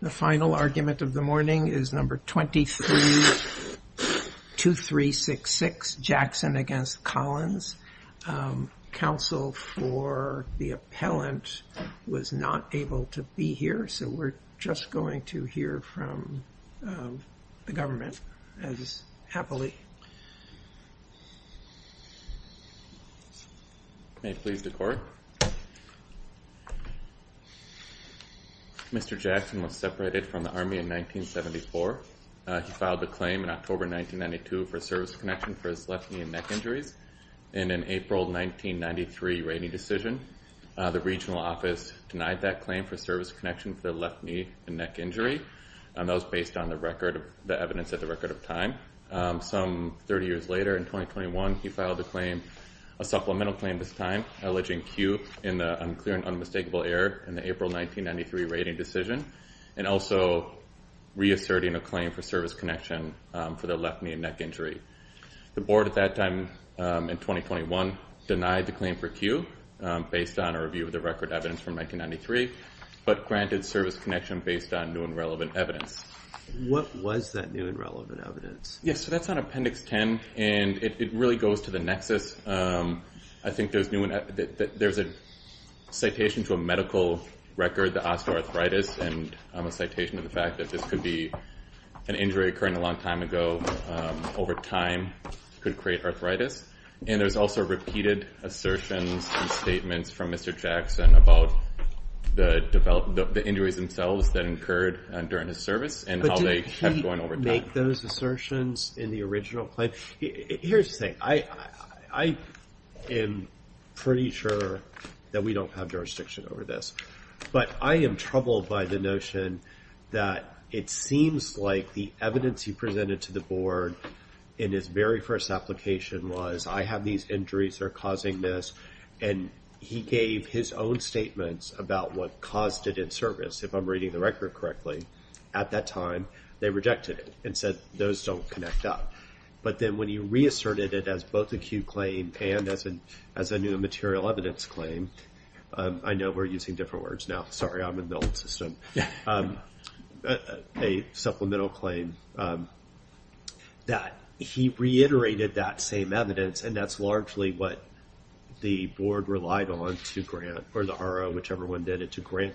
The final argument of the morning is number 23-2366, Jackson against Collins. Counsel for the appellant was not able to be here, so we're just going to hear from the government as happily. May it please the court. Mr. Jackson was separated from the Army in 1974. He filed a claim in October 1992 for service connection for his left knee and neck injuries. In an April 1993 rating decision, the regional office denied that claim for service connection for the left knee and neck injury, and that was based on the evidence at the record of time. Some 30 years later, in 2021, he filed a claim, a supplemental claim this time, alleging Q in the unclear and unmistakable error in the April 1993 rating decision, and also reasserting a claim for service connection for the left knee and neck injury. The board at that time in 2021 denied the claim for Q based on a review of the record evidence from 1993, but granted service connection based on new and relevant evidence. What was that new and relevant evidence? Yes, so that's on Appendix 10, and it really goes to the nexus. I think there's a citation to a medical record that asked for arthritis, and a citation to the fact that this could be an injury occurring a long time ago, over time could create arthritis, and there's also repeated assertions and statements from Mr. Jackson about the injuries themselves that occurred during his service, and how they have gone over time. But did he make those assertions in the original claim? Here's the thing. I am pretty sure that we don't have jurisdiction over this, but I am troubled by the notion that it seems like the evidence he presented to the board in his very first application was I have these injuries that are causing this, and he gave his own statements about what caused it in service, if I'm reading the record correctly. At that time, they rejected it and said those don't connect up. But then when he reasserted it as both acute claim and as a new material evidence claim, I know we're using different words now. Sorry, I'm in the old system. A supplemental claim that he reiterated that same evidence, and that's largely what the board relied on to grant, or the RO, whichever one did it, to grant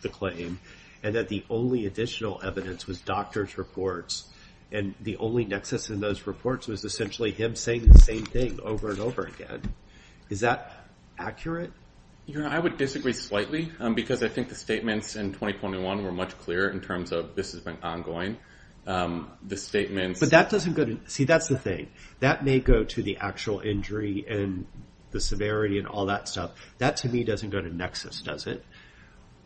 the claim, and that the only additional evidence was doctor's reports, and the only nexus in those reports was essentially him saying the same thing over and over again. Is that accurate? Your Honor, I would disagree slightly, because I think the statements in 2021 were much clearer in terms of this has been ongoing. The statements... But that doesn't go to... See, that's the thing. That may go to the actual injury and the severity and all that stuff. That, to me, doesn't go to nexus, does it?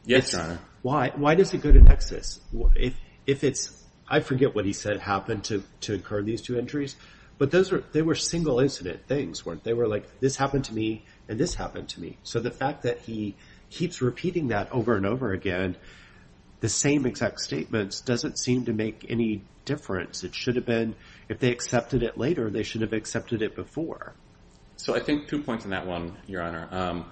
Yes, Your Honor. Why does it go to nexus? If it's... I forget what he said happened to incur these two injuries, but they were single incident things, weren't they? They were like, this happened to me, and this happened to me. So the fact that he keeps repeating that over and over again, the same exact statements, doesn't seem to make any difference. It should have been, if they accepted it later, they should have accepted it before. So I think two points on that one, Your Honor.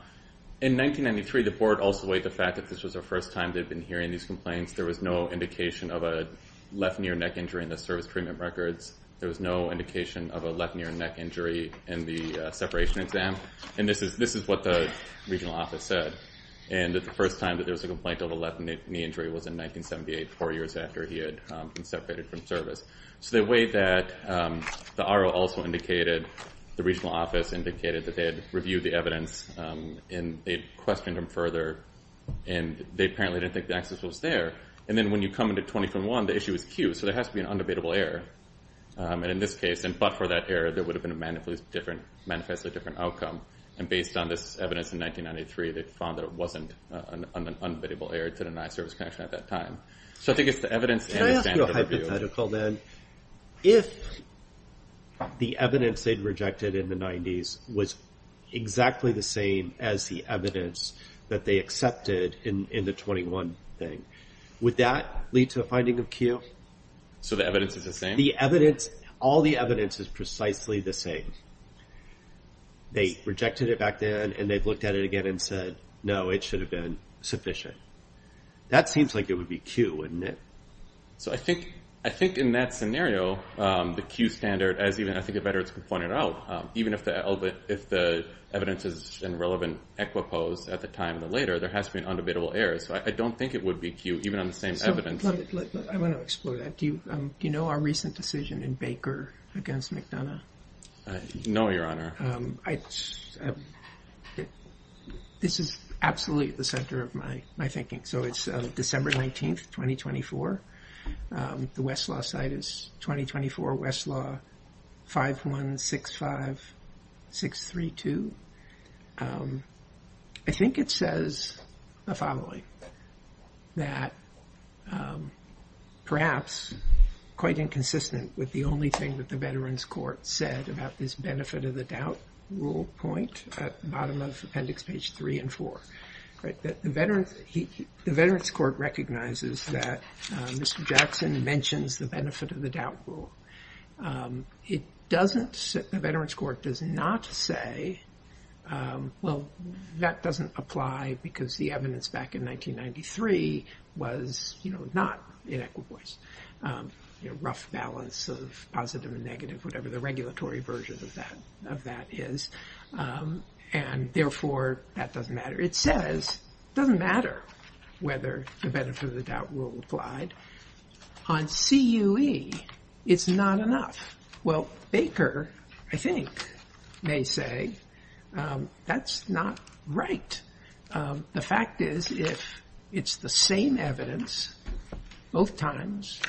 In 1993, the board also weighed the fact that this was the first time they'd been hearing these complaints. There was no indication of a left near neck injury in the service treatment records. There was no indication of a left near neck injury in the separation exam. And this is what the regional office said, and that the first time that there was a complaint of a left knee injury was in 1978, four years after he had been separated from service. So they weighed that. The RO also indicated, the regional office indicated that they had reviewed the evidence, and they questioned him further, and they apparently didn't think the access was there. And then when you come into 2021, the issue is cued, so there has to be an undebatable error. And in this case, but for that error, there would have been a manifestly different outcome. And based on this evidence in 1993, they found that it wasn't an undebatable error to deny service connection at that time. So I think it's the evidence and the standard of review. If the evidence they'd rejected in the 90s was exactly the same as the evidence that they accepted in the 21 thing, would that lead to a finding of cue? So the evidence is the same? The evidence, all the evidence is precisely the same. They rejected it back then, and they've looked at it again and said, no, it should have been sufficient. That seems like it would be cue, wouldn't it? So I think in that scenario, the cue standard, as even I think the veterans pointed out, even if the evidence is in relevant equipose at the time of the later, there has to be an undebatable error. So I don't think it would be cue, even on the same evidence. I want to explore that. Do you know our recent decision in Baker against McDonough? No, Your Honor. This is absolutely at the center of my thinking. So it's December 19th, 2024. The Westlaw site is 2024 Westlaw 5165632. I think it says the following, that perhaps quite inconsistent with the only thing that the veterans court said about this benefit of the doubt rule point at the bottom of appendix page three and four. The veterans court recognizes that Mr. Jackson mentions the benefit of the doubt rule. It doesn't, the veterans court does not say, well, that doesn't apply because the evidence back in 1993 was not in equipose. Rough balance of positive and negative, whatever the regulatory version of that is. And therefore, that doesn't matter. It says it doesn't matter whether the benefit of the doubt rule applied on CUE. It's not enough. Well, Baker, I think they say that's not right. The fact is, if it's the same evidence both times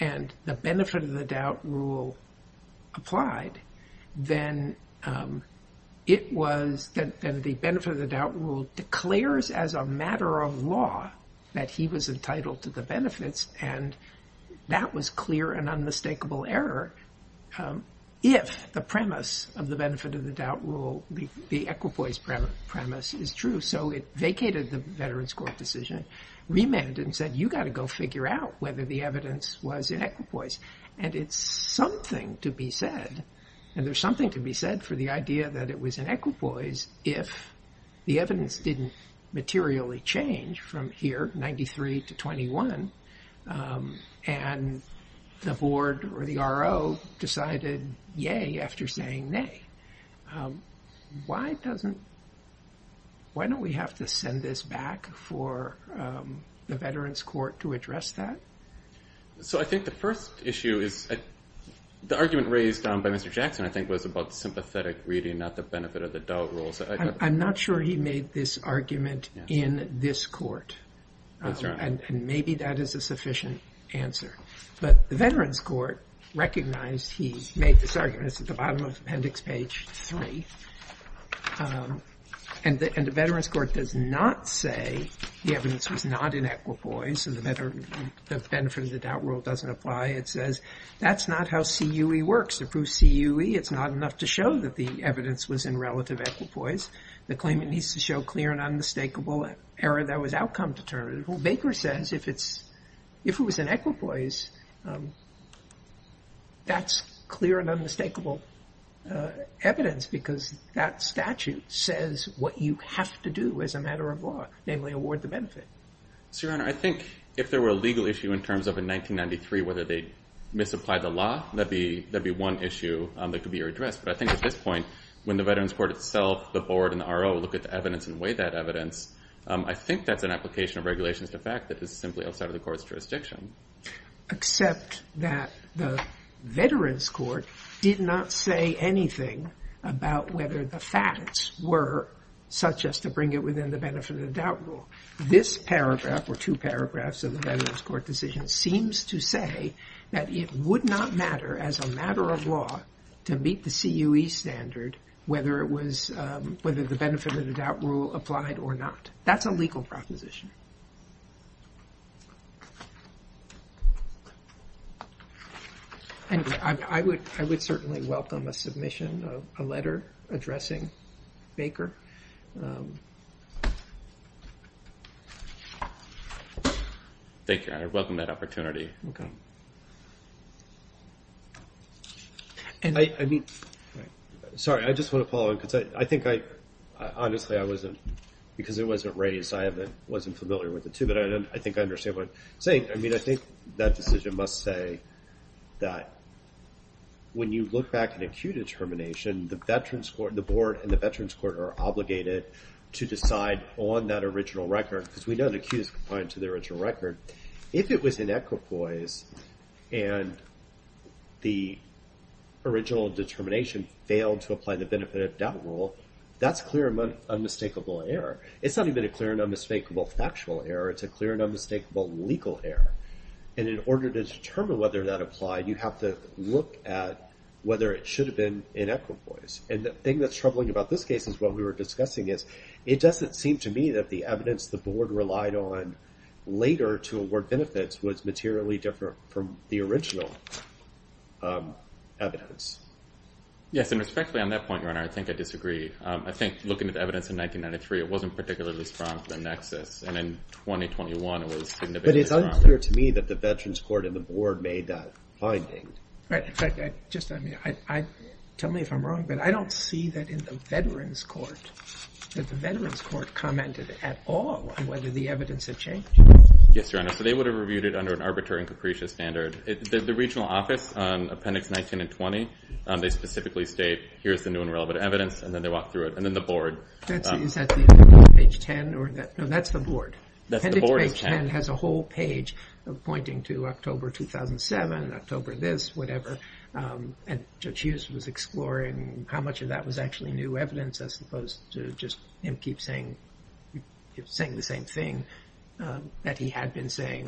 and the benefit of the doubt rule applied, then it was that the benefit of the doubt rule declares as a matter of law that he was entitled to the benefits. And that was clear and unmistakable error. If the premise of the benefit of the doubt rule, the equipoise premise is true. So it vacated the veterans court decision, remanded and said, you got to go figure out whether the evidence was in equipoise. And it's something to be said. And there's something to be said for the idea that it was in equipoise if the evidence didn't materially change from here, 93 to 21. And the board or the R.O. decided, yay, after saying nay. Why doesn't, why don't we have to send this back for the veterans court to address that? So I think the first issue is the argument raised by Mr. Jackson, I think, was about sympathetic reading, not the benefit of the doubt rules. I'm not sure he made this argument in this court. And maybe that is a sufficient answer. But the veterans court recognized he made this argument at the bottom of appendix page three. And the veterans court does not say the evidence was not in equipoise. So the benefit of the doubt rule doesn't apply. It says that's not how CUE works. Approved CUE, it's not enough to show that the evidence was in relative equipoise. The claimant needs to show clear and unmistakable error that was outcome determinative. Baker says if it's, if it was in equipoise, that's clear and unmistakable evidence because that statute says what you have to do as a matter of law, namely award the benefit. So, Your Honor, I think if there were a legal issue in terms of a 1993, whether they misapplied the law, that'd be one issue that could be addressed. But I think at this point, when the veterans court itself, the board and the R.O. look at the evidence and weigh that evidence, I think that's an application of regulations to fact that is simply outside of the court's jurisdiction. Except that the veterans court did not say anything about whether the facts were such as to bring it within the benefit of doubt rule. This paragraph or two paragraphs of the veterans court decision seems to say that it would not matter as a matter of law to meet the CUE standard, whether it was, whether the benefit of the doubt rule applied or not. That's a legal proposition. And I would, I would certainly welcome a submission of a letter addressing Baker. Thank you, Your Honor. I welcome that opportunity. OK. And I mean, sorry, I just want to follow up. I think I honestly I wasn't because it wasn't raised. I wasn't familiar with it, too. But I think I understand what you're saying. I mean, I think that decision must say that. When you look back at a CUE determination, the veterans court, the board and the veterans court are obligated to decide on that original record, because we know the CUE is confined to the original record. If it was in equipoise and the original determination failed to apply the benefit of doubt rule, that's clear and unmistakable error. It's not even a clear and unmistakable factual error. It's a clear and unmistakable legal error. And in order to determine whether that applied, you have to look at whether it should have been in equipoise. And the thing that's troubling about this case is what we were discussing is it doesn't seem to me that the evidence the board relied on later to award benefits was materially different from the original evidence. Yes. And respectfully, on that point, Your Honor, I think I disagree. I think looking at evidence in 1993, it wasn't particularly strong for the nexus. And in 2021, it was significantly stronger. But it's unclear to me that the veterans court and the board made that finding. In fact, just tell me if I'm wrong, but I don't see that in the veterans court, that the veterans court commented at all on whether the evidence had changed. Yes, Your Honor. So they would have reviewed it under an arbitrary and capricious standard. The regional office on appendix 19 and 20, they specifically state, here's the new and relevant evidence. And then they walk through it. And then the board. Is that the appendix page 10? No, that's the board. That's the board of 10. Appendix page 10 has a whole page pointing to October 2007, October this, whatever. And Judge Hughes was exploring how much of that was actually new evidence as opposed to just him keep saying the same thing that he had been saying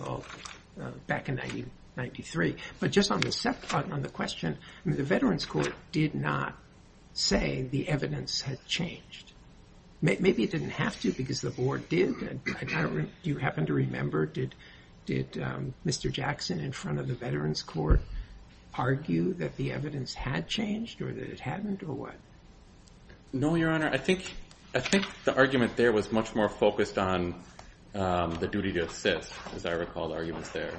back in 1993. But just on the question, the veterans court did not say the evidence had changed. Maybe it didn't have to because the board did. Do you happen to remember, did Mr. Jackson in front of the veterans court argue that the evidence had changed or that it hadn't or what? No, Your Honor. I think the argument there was much more focused on the duty to assist, as I recall the arguments there.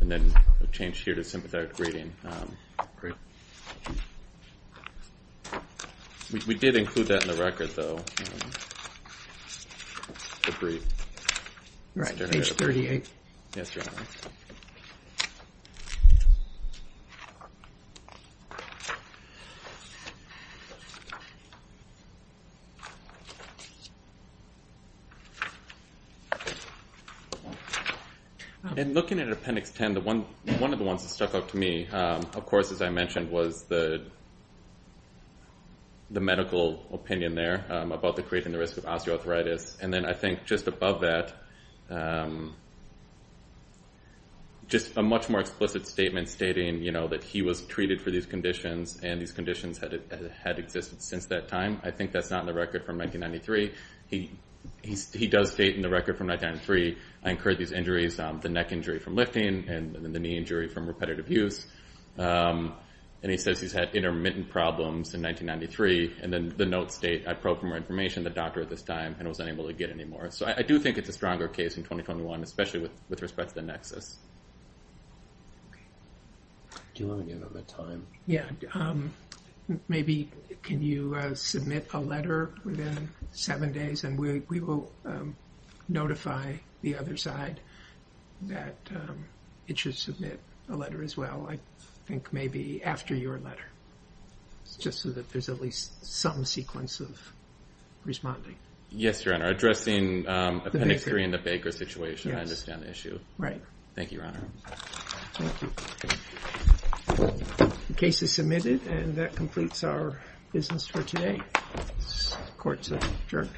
And then it changed here to sympathetic reading. We did include that in the record, though. The brief. Right, page 38. Yes, Your Honor. In looking at appendix 10, one of the ones that stuck out to me, of course, as I mentioned, was the medical opinion there about creating the risk of osteoarthritis. And then I think just above that, just a much more explicit statement stating that he was treated for these conditions and these conditions had existed since that time. I think that's not in the record from 1993. He does state in the record from 1993, I incurred these injuries, the neck injury from lifting and the knee injury from repetitive use. And he says he's had intermittent problems in 1993. And then the notes state, I probed for more information, the doctor at this time and was unable to get any more. So I do think it's a stronger case in 2021, especially with respect to the nexus. Do you want to give them the time? Yeah. Maybe can you submit a letter within seven days and we will notify the other side that it should submit a letter as well. I think maybe after your letter, just so that there's at least some sequence of responding. Yes, Your Honor. Addressing Appendix 3 and the Baker situation, I understand the issue. Right. Thank you, Your Honor. Thank you. The case is submitted and that completes our business for today. Court's adjourned.